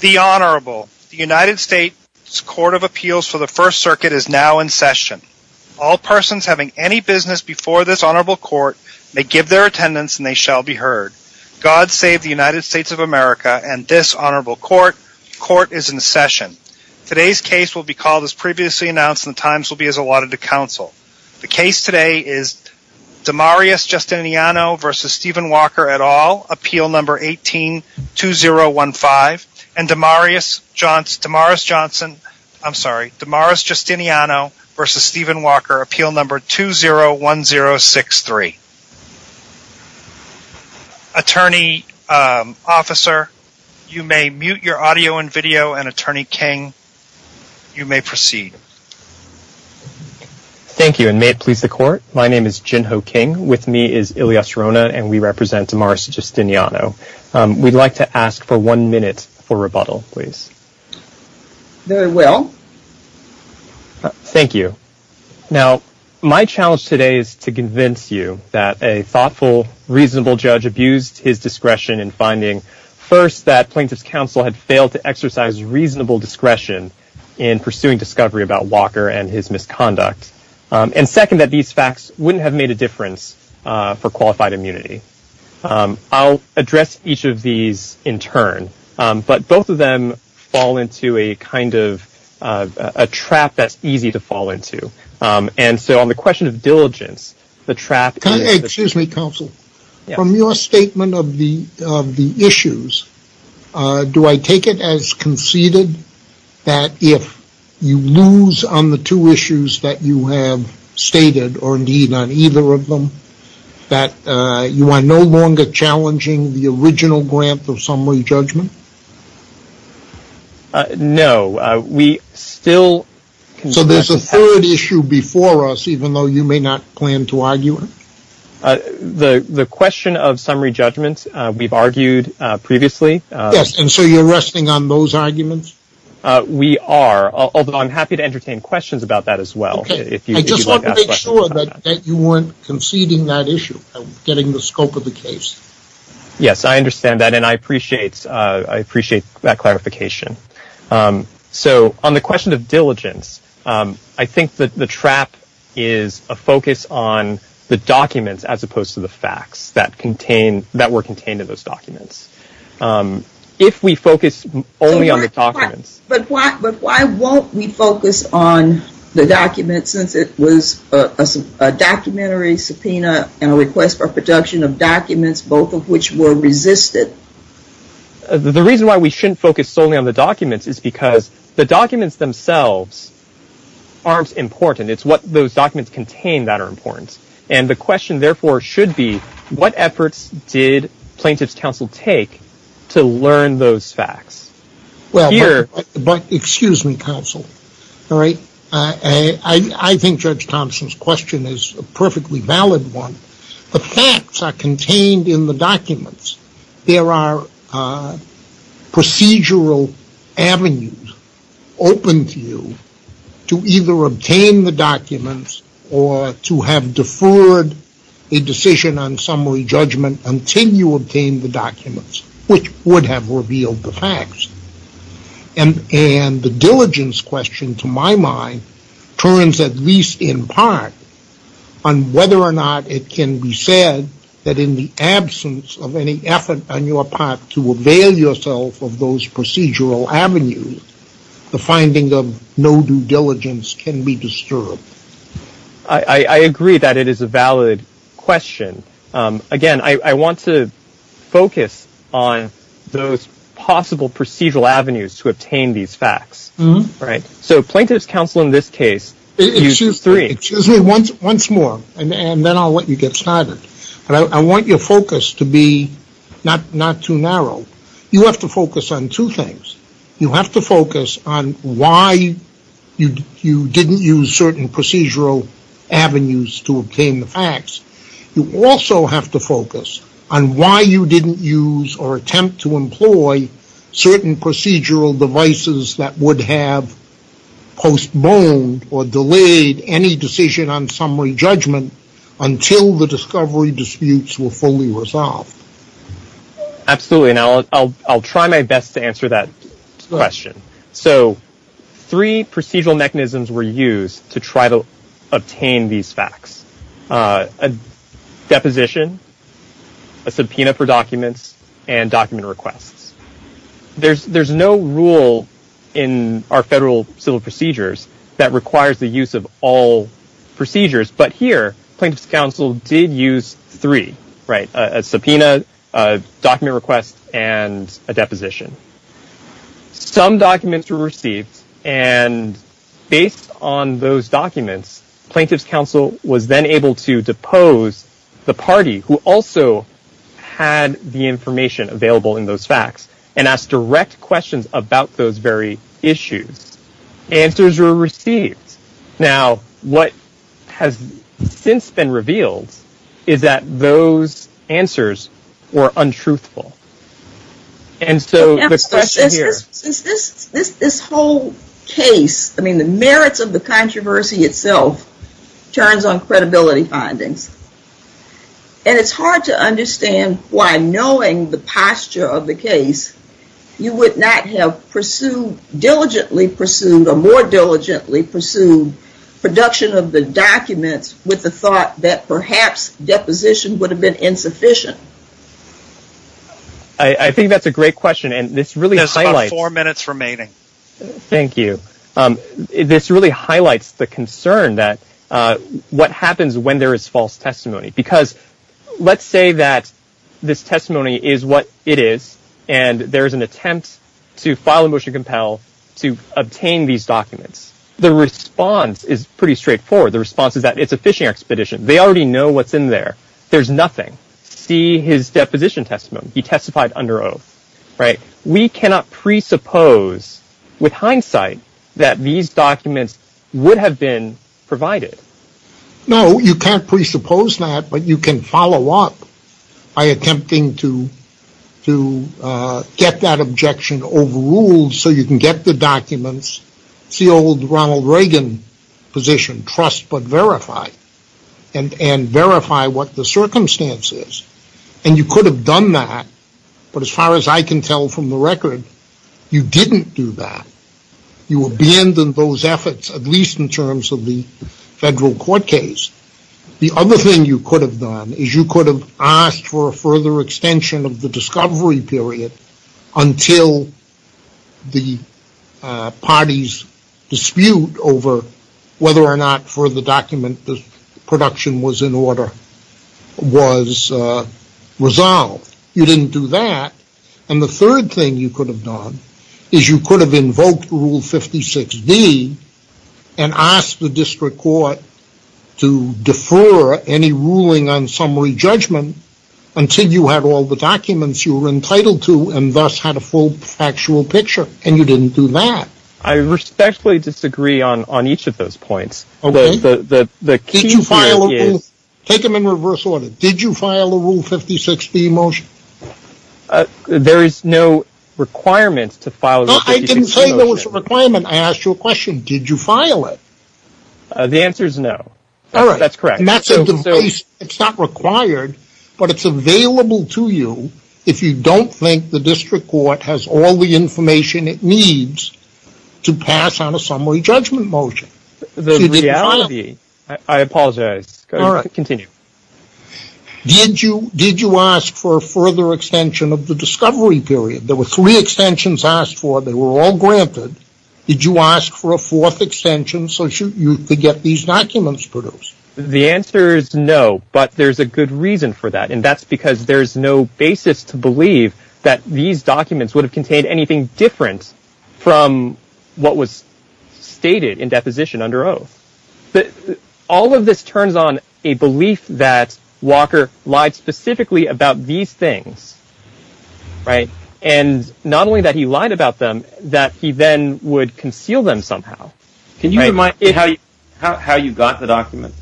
The Honorable, the United States Court of Appeals for the First Circuit is now in session. All persons having any business before this Honorable Court may give their attendance and they shall be heard. God save the United States of America and this Honorable Court, court is in session. Today's case will be called as previously announced and the times will be as allotted to counsel. The case today is Damaris Justiniano v. Stephen Walker et al., Appeal No. 18-2015 and Damaris Johnson, I'm sorry, Damaris Justiniano v. Stephen Walker, Appeal No. 20-1063. Attorney Officer, you may mute your audio and video and Attorney King, you may proceed. Thank you and may it please the Court, my name is Jin Ho King, with me is Ilyas Rona and we represent Damaris Justiniano. We'd like to ask for one minute for rebuttal, please. Very well. Thank you. Now, my challenge today is to convince you that a thoughtful, reasonable judge abused his discretion in finding, first, that plaintiff's counsel had failed to exercise reasonable discretion in pursuing discovery about Walker and his misconduct, and second, that these facts wouldn't have made a difference for qualified immunity. I'll address each of these in turn, but both of them fall into a kind of a trap that's easy to fall into. And so on the question of diligence, the trap is... that if you lose on the two issues that you have stated, or indeed on either of them, that you are no longer challenging the original grant of summary judgment? No. We still... So there's a third issue before us, even though you may not plan to argue it? The question of summary judgments, we've argued previously. Yes. And so you're resting on those arguments? We are, although I'm happy to entertain questions about that as well. I just want to make sure that you weren't conceding that issue, getting the scope of the case. Yes, I understand that, and I appreciate that clarification. So on the question of diligence, I think that the trap is a focus on the documents as opposed to the facts that were contained in those documents. If we focus only on the documents... But why won't we focus on the documents since it was a documentary subpoena and a request for production of documents, both of which were resisted? The reason why we shouldn't focus solely on the documents is because the documents themselves aren't important. It's what those documents contain that are important. And the question therefore should be, what efforts did Plaintiff's Counsel take to learn those facts? But excuse me, Counsel, I think Judge Thompson's question is a perfectly valid one. There are procedural avenues open to you to either obtain the documents or to have deferred a decision on summary judgment until you obtain the documents, which would have revealed the facts. And the diligence question, to my mind, turns at least in part on whether or not it can be said that in the absence of any effort on your part to avail yourself of those procedural avenues, the finding of no due diligence can be disturbed. I agree that it is a valid question. Again, I want to focus on those possible procedural avenues to obtain these facts. So Plaintiff's Counsel in this case used three. Excuse me, once more, and then I'll let you get started. I want your focus to be not too narrow. You have to focus on two things. You have to focus on why you didn't use certain procedural avenues to obtain the facts. You also have to focus on why you didn't use or attempt to employ certain procedural devices that would have postponed or delayed any decision on summary judgment until the discovery disputes were fully resolved. Absolutely, and I'll try my best to answer that question. So three procedural mechanisms were used to try to obtain these facts. A deposition, a subpoena for documents, and document requests. There's no rule in our federal civil procedures that requires the use of all procedures, but here Plaintiff's Counsel did use three, a subpoena, a document request, and a deposition. Some documents were received, and based on those documents, Plaintiff's Counsel was then and asked direct questions about those very issues. Answers were received. Now what has since been revealed is that those answers were untruthful. And so the question here... This whole case, I mean the merits of the controversy itself, turns on credibility findings. And it's hard to understand why knowing the posture of the case, you would not have pursued, diligently pursued, or more diligently pursued production of the documents with the thought that perhaps deposition would have been insufficient. I think that's a great question, and this really highlights... There's about four minutes remaining. Thank you. This really highlights the concern that what happens when there is false testimony, because let's say that this testimony is what it is, and there is an attempt to file a motion to compel to obtain these documents. The response is pretty straightforward. The response is that it's a fishing expedition. They already know what's in there. There's nothing. See his deposition testimony. He testified under oath, right? We cannot presuppose, with hindsight, that these documents would have been provided. No, you can't presuppose that, but you can follow up by attempting to get that objection overruled so you can get the documents, see old Ronald Reagan position, trust but verify, and verify what the circumstance is. And you could have done that, but as far as I can tell from the record, you didn't do that. You abandoned those efforts, at least in terms of the federal court case. The other thing you could have done is you could have asked for a further extension of the discovery period until the party's dispute over whether or not for the document the production was in order was resolved. You didn't do that. And the third thing you could have done is you could have invoked Rule 56D and asked the district court to defer any ruling on summary judgment until you had all the documents you were entitled to and thus had a full factual picture. And you didn't do that. I respectfully disagree on each of those points. Okay. Take them in reverse order. Did you file a Rule 56D motion? There is no requirement to file a Rule 56D motion. I didn't say there was a requirement. I asked you a question. Did you file it? The answer is no. All right. That's correct. And that's a device. It's not required, but it's available to you if you don't think the district court has all the information it needs to pass on a summary judgment motion. The reality... I apologize. Go ahead. Continue. Did you ask for a further extension of the discovery period? There were three extensions asked for. They were all granted. Did you ask for a fourth extension so you could get these documents produced? The answer is no, but there's a good reason for that. And that's because there's no basis to believe that these documents would have contained anything different from what was stated in deposition under oath. But all of this turns on a belief that Walker lied specifically about these things, right? And not only that he lied about them, that he then would conceal them somehow. Can you remind me how you got the documents?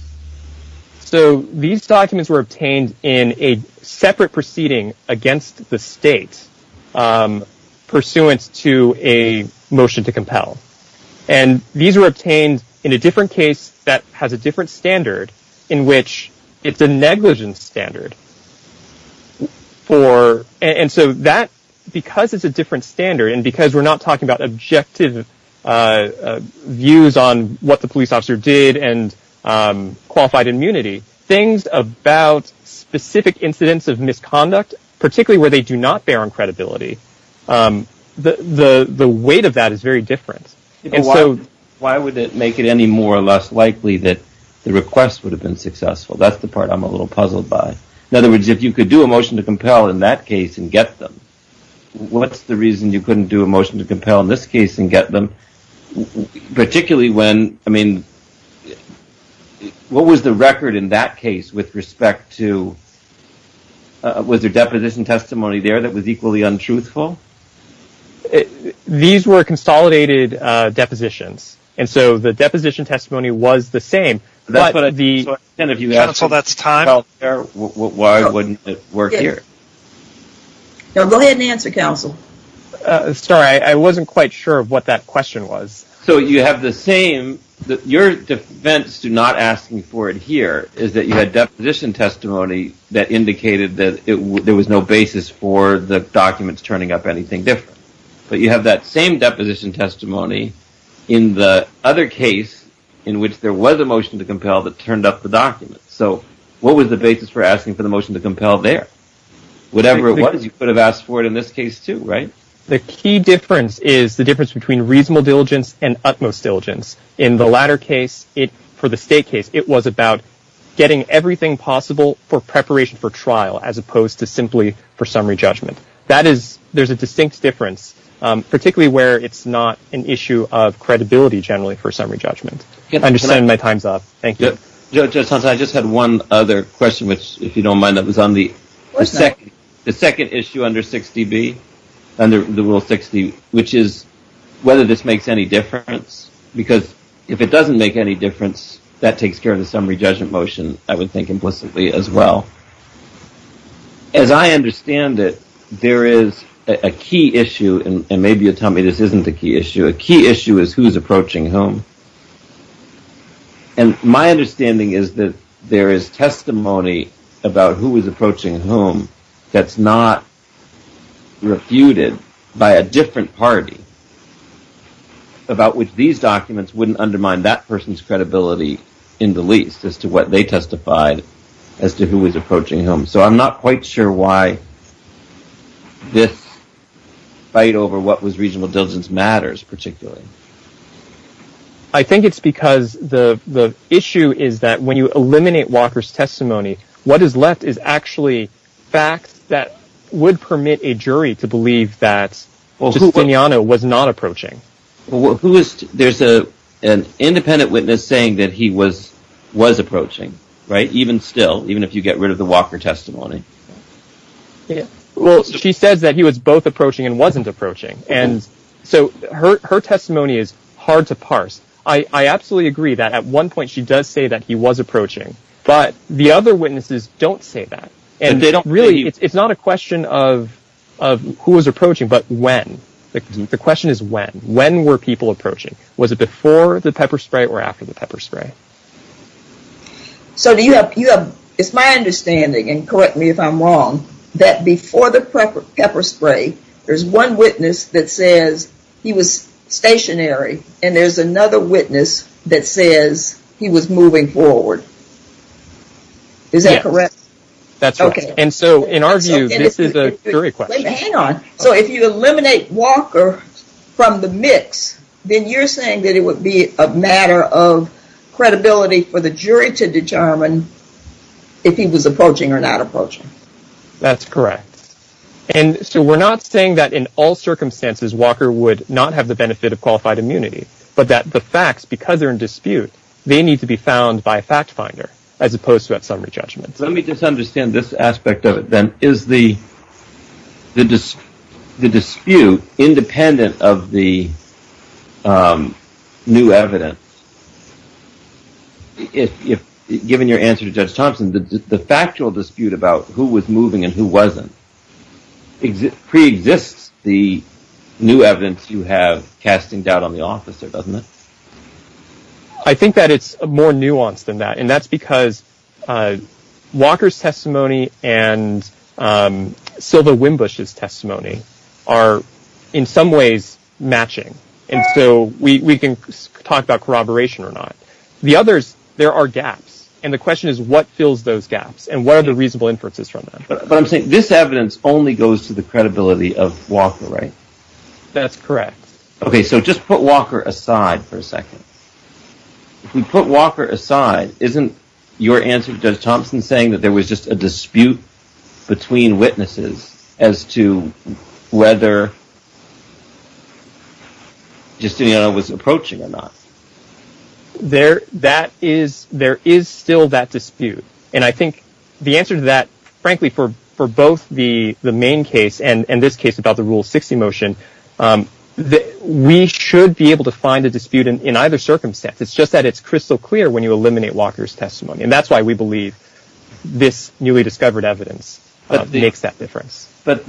So these documents were obtained in a separate proceeding against the state pursuant to a motion to compel. And these were obtained in a different case that has a different standard in which it's a negligence standard for... And so that, because it's a different standard and because we're not talking about objective views on what the police officer did and qualified immunity, things about specific incidents of misconduct, particularly where they do not bear on credibility, the weight of that is very different. Why would it make it any more or less likely that the request would have been successful? That's the part I'm a little puzzled by. In other words, if you could do a motion to compel in that case and get them, what's the Particularly when, I mean, what was the record in that case with respect to... Was there deposition testimony there that was equally untruthful? These were consolidated depositions. And so the deposition testimony was the same, but the... Counsel, that's time. Why wouldn't it work here? Go ahead and answer, Counsel. Sorry, I wasn't quite sure of what that question was. So you have the same... Your defense to not asking for it here is that you had deposition testimony that indicated that there was no basis for the documents turning up anything different. But you have that same deposition testimony in the other case in which there was a motion to compel that turned up the documents. So what was the basis for asking for the motion to compel there? Whatever it was, you could have asked for it in this case too, right? The key difference is the difference between reasonable diligence and utmost diligence. In the latter case, for the state case, it was about getting everything possible for preparation for trial as opposed to simply for summary judgment. That is, there's a distinct difference. Particularly where it's not an issue of credibility generally for summary judgment. I understand my time's up. Thank you. Judge Hanson, I just had one other question which, if you don't mind, that was on the second issue under 60B, under the Rule 60, which is whether this makes any difference. Because if it doesn't make any difference, that takes care of the summary judgment motion, I would think implicitly as well. As I understand it, there is a key issue, and maybe you'll tell me this isn't the key issue, a key issue is who's approaching whom. And my understanding is that there is testimony about who is approaching whom that's not refuted by a different party, about which these documents wouldn't undermine that person's credibility in the least, as to what they testified as to who was approaching whom. So I'm not quite sure why this fight over what was reasonable diligence matters particularly. I think it's because the issue is that when you eliminate Walker's testimony, what is left is actually facts that would permit a jury to believe that Justiniano was not approaching. There's an independent witness saying that he was approaching, even still, even if you get rid of the Walker testimony. Well, she says that he was both approaching and wasn't approaching. So her testimony is hard to parse. I absolutely agree that at one point she does say that he was approaching, but the other witnesses don't say that. It's not a question of who was approaching, but when. The question is when. When were people approaching? Was it before the pepper spray or after the pepper spray? So it's my understanding, and correct me if I'm wrong, that before the pepper spray, there's one witness that says he was stationary, and there's another witness that says he was moving forward. Is that correct? That's right. And so in our view, this is a jury question. Hang on. So if you eliminate Walker from the mix, then you're saying that it would be a matter of credibility for the jury to determine if he was approaching or not approaching. That's correct. And so we're not saying that in all circumstances, Walker would not have the benefit of qualified immunity, but that the facts, because they're in dispute, they need to be found by a fact finder as opposed to a summary judgment. Let me just understand this aspect of it, then. Is the dispute independent of the new evidence? Given your answer to Judge Thompson, the factual dispute about who was moving and who wasn't pre-exists the new evidence you have casting doubt on the officer, doesn't it? I think that it's more nuanced than that, and that's because Walker's testimony and Silva Wimbush's testimony are in some ways matching. And so we can talk about corroboration or not. The others, there are gaps. And the question is, what fills those gaps? And what are the reasonable inferences from that? But I'm saying this evidence only goes to the credibility of Walker, right? That's correct. OK, so just put Walker aside for a second. If we put Walker aside, isn't your answer, Judge Thompson saying that there was just a dispute between witnesses as to whether Justino was approaching or not? There is still that dispute. And I think the answer to that, frankly, for both the main case and this case about the Rule 60 motion, we should be able to find a dispute in either circumstance. And that's why we believe this newly discovered evidence makes that difference. But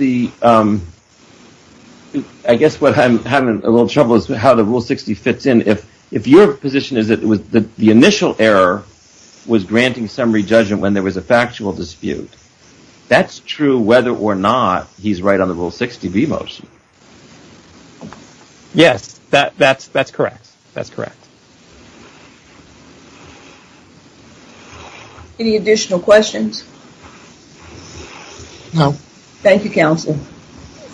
I guess what I'm having a little trouble with is how the Rule 60 fits in. If your position is that the initial error was granting summary judgment when there was a factual dispute, that's true whether or not he's right on the Rule 60b motion. Yes, that's correct. Any additional questions? No. Thank you, Counsel.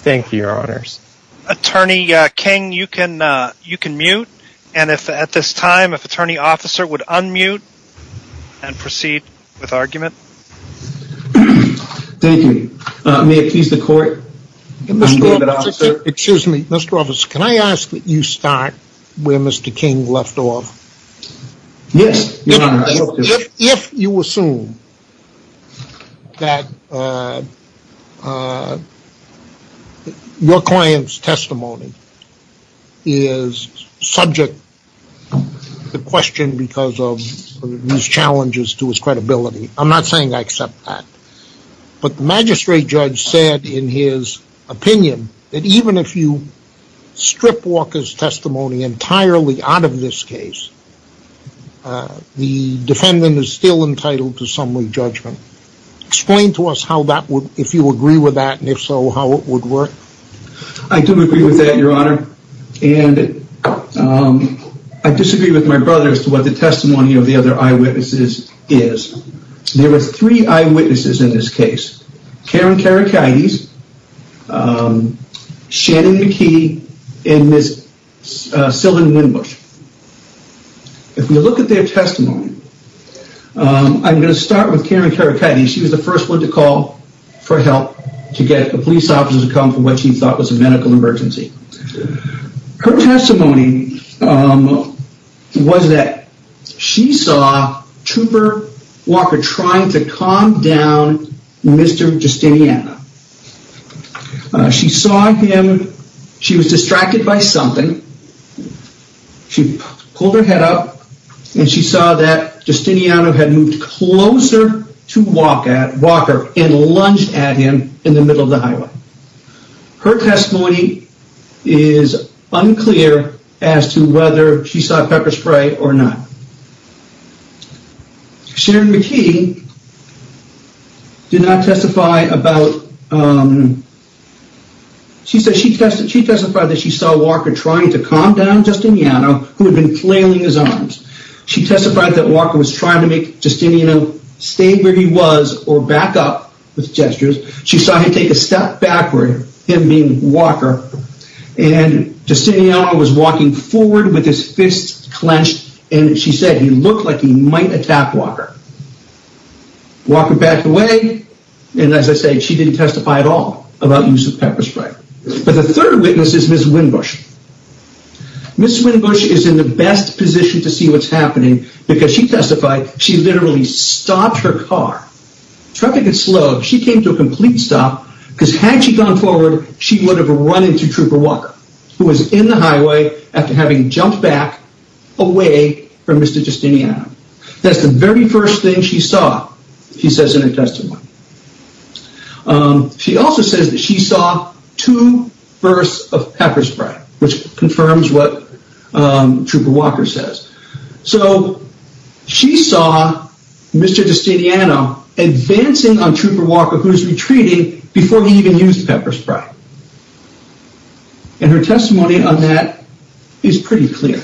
Thank you, Your Honors. Attorney King, you can mute. And if at this time, if Attorney Officer would unmute and proceed with argument. Thank you. May it please the Court? Excuse me, Mr. Officer, can I ask that you start where Mr. King left off? Yes. If you assume that your client's testimony is subject to question because of these challenges to his credibility, I'm not saying I accept that. But the magistrate judge said in his opinion that even if you strip Walker's testimony entirely out of this case, the defendant is still entitled to summary judgment. Explain to us how that would, if you agree with that, and if so, how it would work. I do agree with that, Your Honor. And I disagree with my brother as to what the testimony of the other eyewitnesses is. There were three eyewitnesses in this case. Karen Karakides, Shannon McKee, and Ms. Sylvan Windbush. If you look at their testimony, I'm going to start with Karen Karakides. She was the first one to call for help to get a police officer to come for what she thought was a medical emergency. Her testimony was that she saw Trooper Walker trying to calm down Mr. Justiniano. She saw him. She was distracted by something. She pulled her head up and she saw that Justiniano had moved closer to Walker and lunged at him in the middle of the highway. Her testimony is unclear as to whether she saw pepper spray or not. Sharon McKee did not testify about, she testified that she saw Walker trying to calm down Justiniano who had been flailing his arms. She testified that Walker was trying to make Justiniano stay where he was or back up with gestures. She saw him take a step backward, him being Walker, and Justiniano was walking forward with his fists clenched and she said he looked like he might attack Walker. Walker backed away and as I said she didn't testify at all about use of pepper spray. But the third witness is Ms. Windbush. Ms. Windbush is in the best position to see what's happening because she testified she literally stopped her car. Traffic is slow. She came to a complete stop because had she gone forward she would have run into Trooper Walker who was in the highway after having jumped back away from Mr. Justiniano. That's the very first thing she saw, she says in her testimony. She also says that she saw two bursts of pepper spray which confirms what Trooper Walker says. So she saw Mr. Justiniano advancing on Trooper Walker who was retreating before he even used pepper spray. And her testimony on that is pretty clear.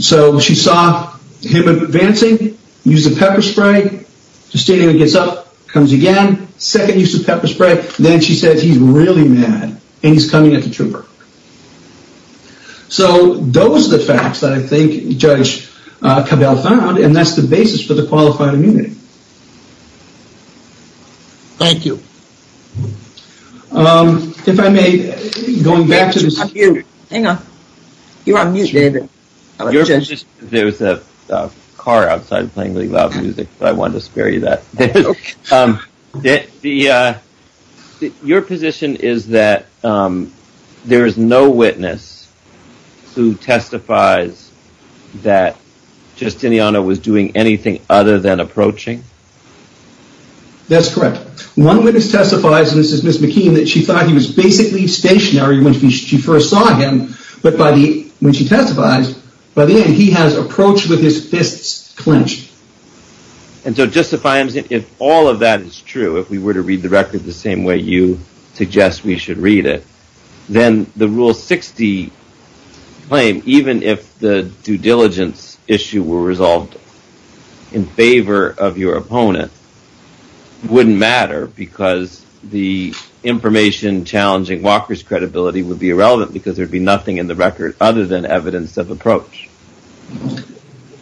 So she saw him advancing, used the pepper spray, Justiniano gets up, comes again, second use of pepper spray, then she says he's really mad and he's coming at the Trooper. So those are the facts that I think Judge Cabell found and that's the basis for the qualified immunity. Thank you. If I may, going back to the... Hang on, you're on mute David. There was a car outside playing really loud music but I wanted to spare you that. Your position is that there is no witness who testifies that Justiniano was doing anything other than approaching? That's correct. One witness testifies, and this is Ms. McKean, that she thought he was basically stationary when she first saw him but when she testified, by the end he has approached with his fists clenched. And so justifying, if all of that is true, if we were to read the record the same way you suggest we should read it, then the Rule 60 claim, even if the due diligence issue were resolved in favor of your opponent, wouldn't matter because the information challenging Walker's credibility would be irrelevant because there would be nothing in the record other than evidence of approach.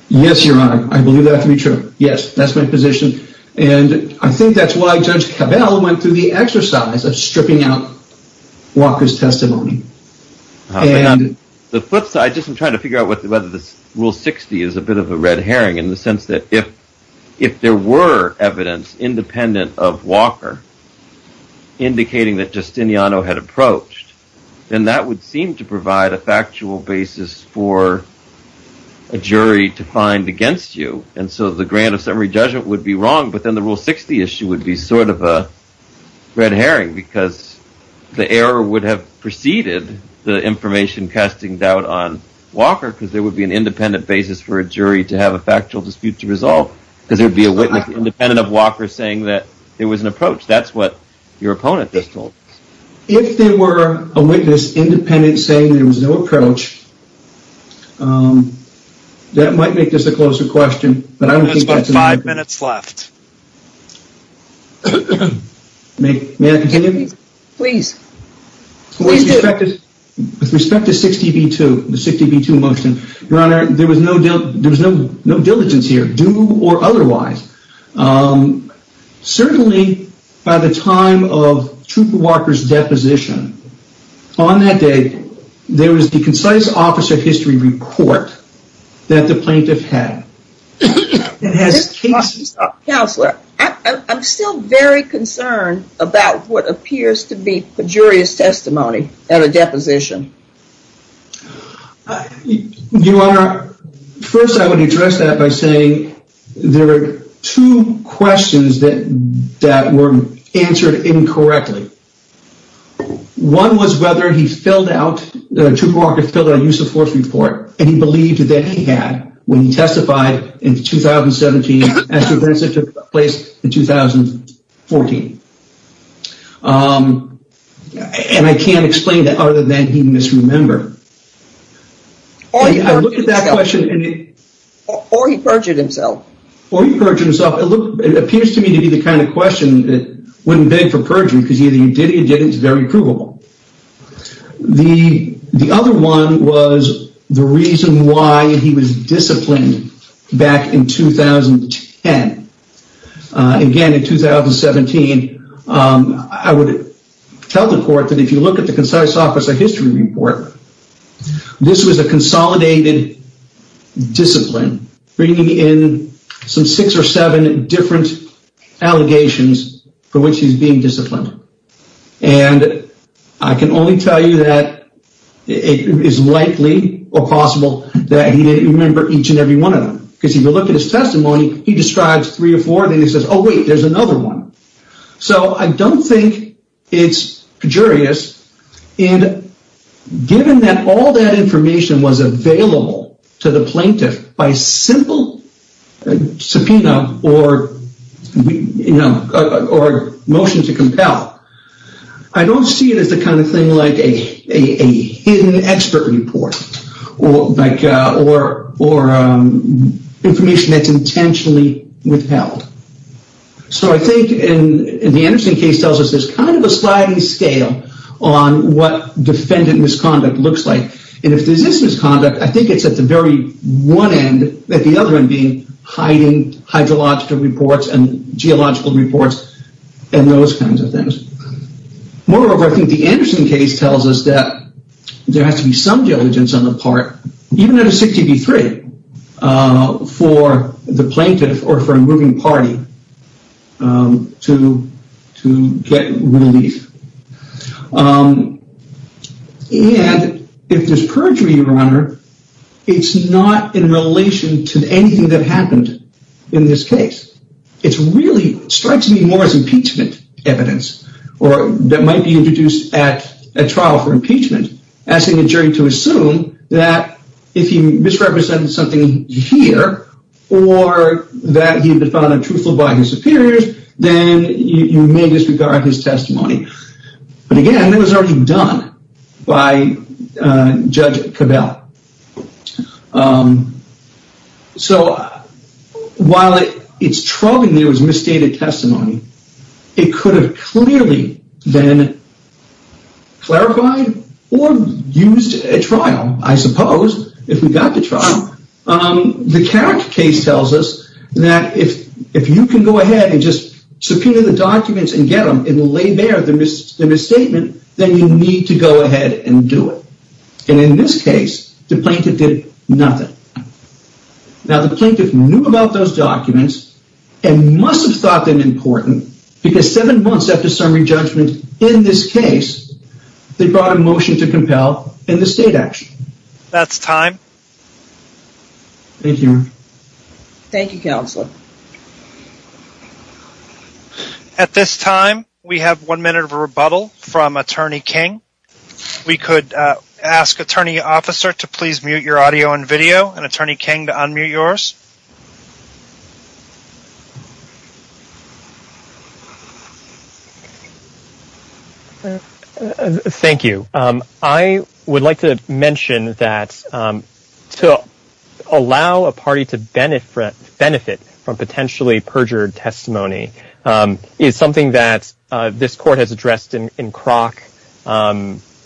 Yes, Your Honor, I believe that to be true. Yes, that's my position and I think that's why Judge Cabell went through the exercise of stripping out Walker's testimony. The flip side, I'm just trying to figure out whether Rule 60 is a bit of a red herring in the sense that if there were evidence independent of Walker indicating that Justiniano had approached, then that would seem to provide a factual basis for a jury to find against you. And so the grant of summary judgment would be wrong but then the Rule 60 issue would be sort of a red herring because the error would have preceded the information casting doubt on Walker because there would be an independent basis for a jury to have a factual dispute to resolve because there would be a witness independent of Walker saying that there was an approach. That's what your opponent just told us. If there were a witness independent saying there was no approach, that might make this a closer question. There's about five minutes left. May I continue? Please. With respect to 60 v. 2, the 60 v. 2 motion, Your Honor, there was no diligence here, due or otherwise. Certainly, by the time of Trooper Walker's deposition, on that day, there was the concise officer history report that the plaintiff had. Counselor, I'm still very concerned about what appears to be pejorious testimony at a deposition. Your Honor, first I would address that by saying there are two questions that were answered incorrectly. One was whether Trooper Walker filled out a use of force report and he believed that he had when he testified in 2017 as to events that took place in 2014. And I can't explain that other than he misremembered. Or he perjured himself. Or he perjured himself. It appears to me to be the kind of question that wouldn't beg for perjury because either he did or he didn't. It's very provable. The other one was the reason why he was disciplined back in 2010. Again, in 2017, I would tell the court that if you look at the concise officer history report, this was a consolidated discipline bringing in some six or seven different allegations for which he's being disciplined. And I can only tell you that it is likely or possible that he didn't remember each and every one of them. Because if you look at his testimony, he describes three or four and then he says, oh wait, there's another one. So I don't think it's pejurious. And given that all that information was available to the plaintiff by simple subpoena or motion to compel, I don't see it as the kind of thing like a hidden expert report. Or information that's intentionally withheld. So I think, and the Anderson case tells us, there's kind of a sliding scale on what defendant misconduct looks like. And if there's this misconduct, I think it's at the very one end, at the other end being hiding hydrological reports and geological reports and those kinds of things. Moreover, I think the Anderson case tells us that there has to be some diligence on the part, even at a 60 v. 3, for the plaintiff or for a moving party to get relief. And if there's perjury, Your Honor, it's not in relation to anything that happened in this case. It really strikes me more as impeachment evidence. Or that might be introduced at trial for impeachment. Asking a jury to assume that if he misrepresented something here, or that he had been found untruthful by his superiors, then you may disregard his testimony. But again, that was already done by Judge Cabell. So while it's troubling there was misstated testimony, it could have clearly been clarified or used at trial, I suppose, if we got to trial. The Carrick case tells us that if you can go ahead and just subpoena the documents and get them and lay bare the misstatement, then you need to go ahead and do it. And in this case, the plaintiff did nothing. Now the plaintiff knew about those documents and must have thought them important because seven months after summary judgment in this case, they brought a motion to compel in the state action. That's time. Thank you. Thank you, Counselor. At this time, we have one minute of a rebuttal from Attorney King. We could ask Attorney Officer to please mute your audio and video and Attorney King to unmute yours. Thank you. Thank you. I would like to mention that to allow a party to benefit from potentially perjured testimony is something that this court has addressed in Crock.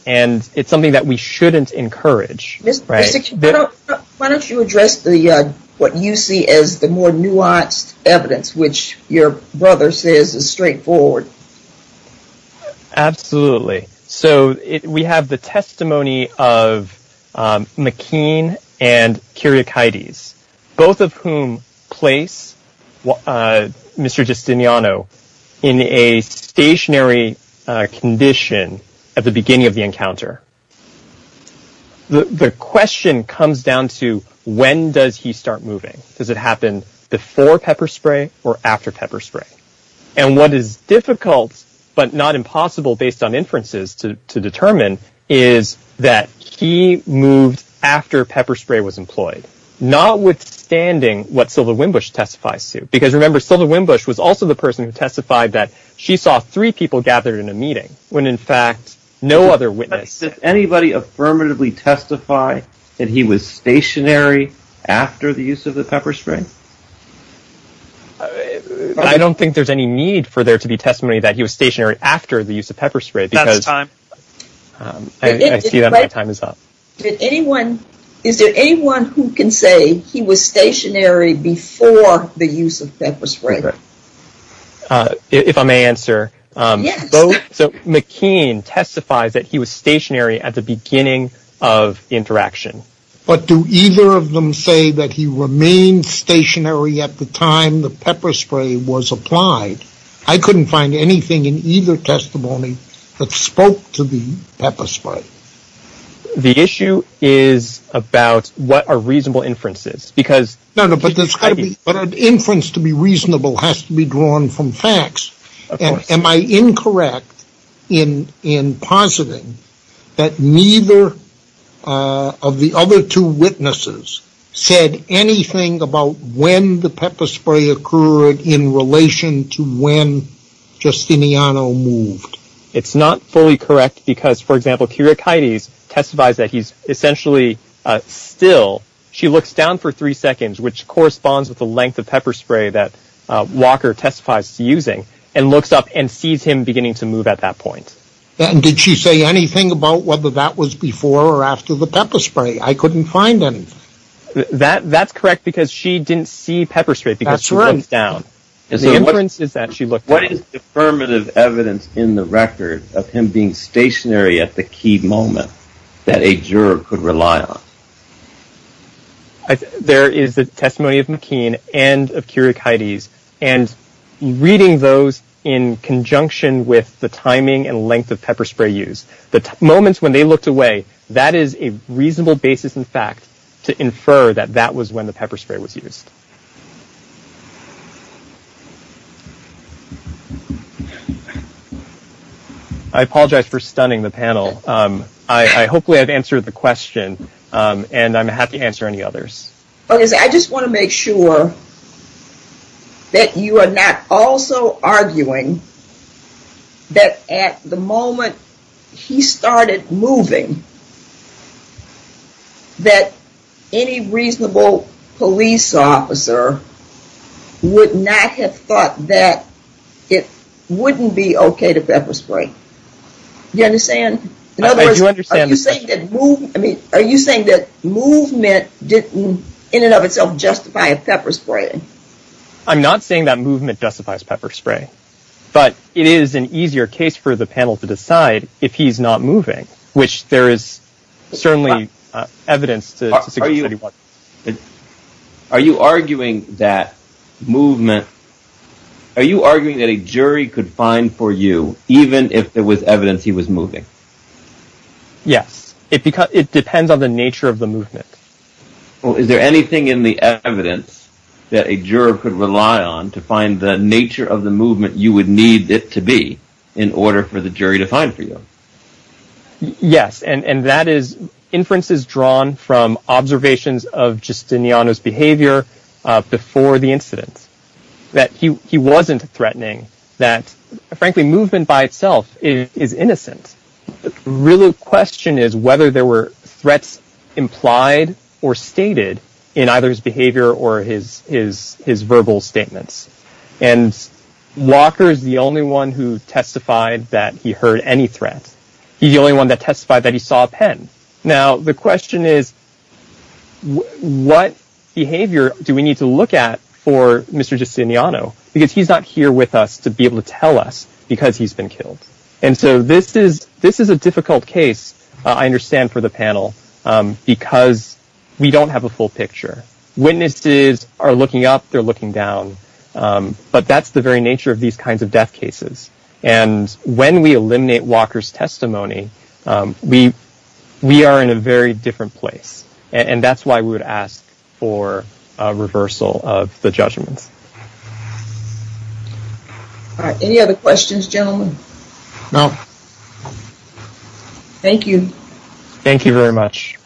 And it's something that we shouldn't encourage. Why don't you address what you see as the more nuanced evidence, which your brother says is straightforward? Absolutely. So we have the testimony of McKean and Kyriakides, both of whom place Mr. Justiniano in a stationary condition at the beginning of the encounter. The question comes down to when does he start moving? Does it happen before pepper spray or after pepper spray? And what is difficult but not impossible based on inferences to determine is that he moved after pepper spray was employed, notwithstanding what Sylva Wimbush testifies to. Because remember, Sylva Wimbush was also the person who testified that she saw three people gathered in a meeting when in fact no other witness Did anybody affirmatively testify that he was stationary after the use of the pepper spray? I don't think there's any need for there to be testimony that he was stationary after the use of pepper spray. Is there anyone who can say he was stationary before the use of pepper spray? If I may answer, McKean testifies that he was stationary at the beginning of the interaction. But do either of them say that he remained stationary at the time the pepper spray was applied? I couldn't find anything in either testimony that spoke to the pepper spray. The issue is about what are reasonable inferences. But an inference to be reasonable has to be drawn from facts. Am I incorrect in positing that neither of the other two witnesses said anything about when the pepper spray occurred in relation to when Justiniano moved? It's not fully correct because, for example, Keira Keides testifies that he's essentially still. She looks down for three seconds, which corresponds with the length of pepper spray that Walker testifies to using, and looks up and sees him beginning to move at that point. And did she say anything about whether that was before or after the pepper spray? I couldn't find anything. That's correct because she didn't see pepper spray because she looked down. What is affirmative evidence in the record of him being that a juror could rely on? There is the testimony of McKean and of Keira Keides, and reading those in conjunction with the timing and length of pepper spray use, the moments when they looked away, that is a reasonable basis in fact to infer that that was when the pepper spray was used. I apologize for hopefully I've answered the question, and I'm happy to answer any others. I just want to make sure that you are not also arguing that at the moment he started moving that any reasonable police officer would not have thought that it wouldn't be okay to pepper spray. Do you understand? Are you saying that movement didn't in and of itself justify a pepper spray? I'm not saying that movement justifies pepper spray. But it is an easier case for the panel to decide if he's not moving. Which there is certainly evidence to suggest that he was. Are you arguing that movement, are you arguing that a jury could find for you even if there was evidence he was moving? Yes, it depends on the nature of the movement. Is there anything in the evidence that a juror could rely on to find the nature of the movement you would need it to be in order for the jury to find for you? Yes, and that is inferences drawn from observations of Justiniano's behavior before the incident. That he wasn't threatening. That frankly movement by itself is innocent. The real question is whether there were threats implied or stated in either his behavior or his verbal statements. And Walker is the only one who testified that he heard any threat. He's the only one that testified that he saw a pen. Now the question is what behavior do we need to look at for Mr. Justiniano? Because he's not here with us to be able to tell us because he's been killed. And so this is this is a difficult case. I understand for the panel because we don't have a full picture. Witnesses are looking up. They're looking down. But that's the very nature of these kinds of death cases. And when we eliminate Walker's testimony, we we are in a very different place. And that's why we would ask for reversal of the judgments. Any other questions gentlemen? No. Thank you. Thank you very much.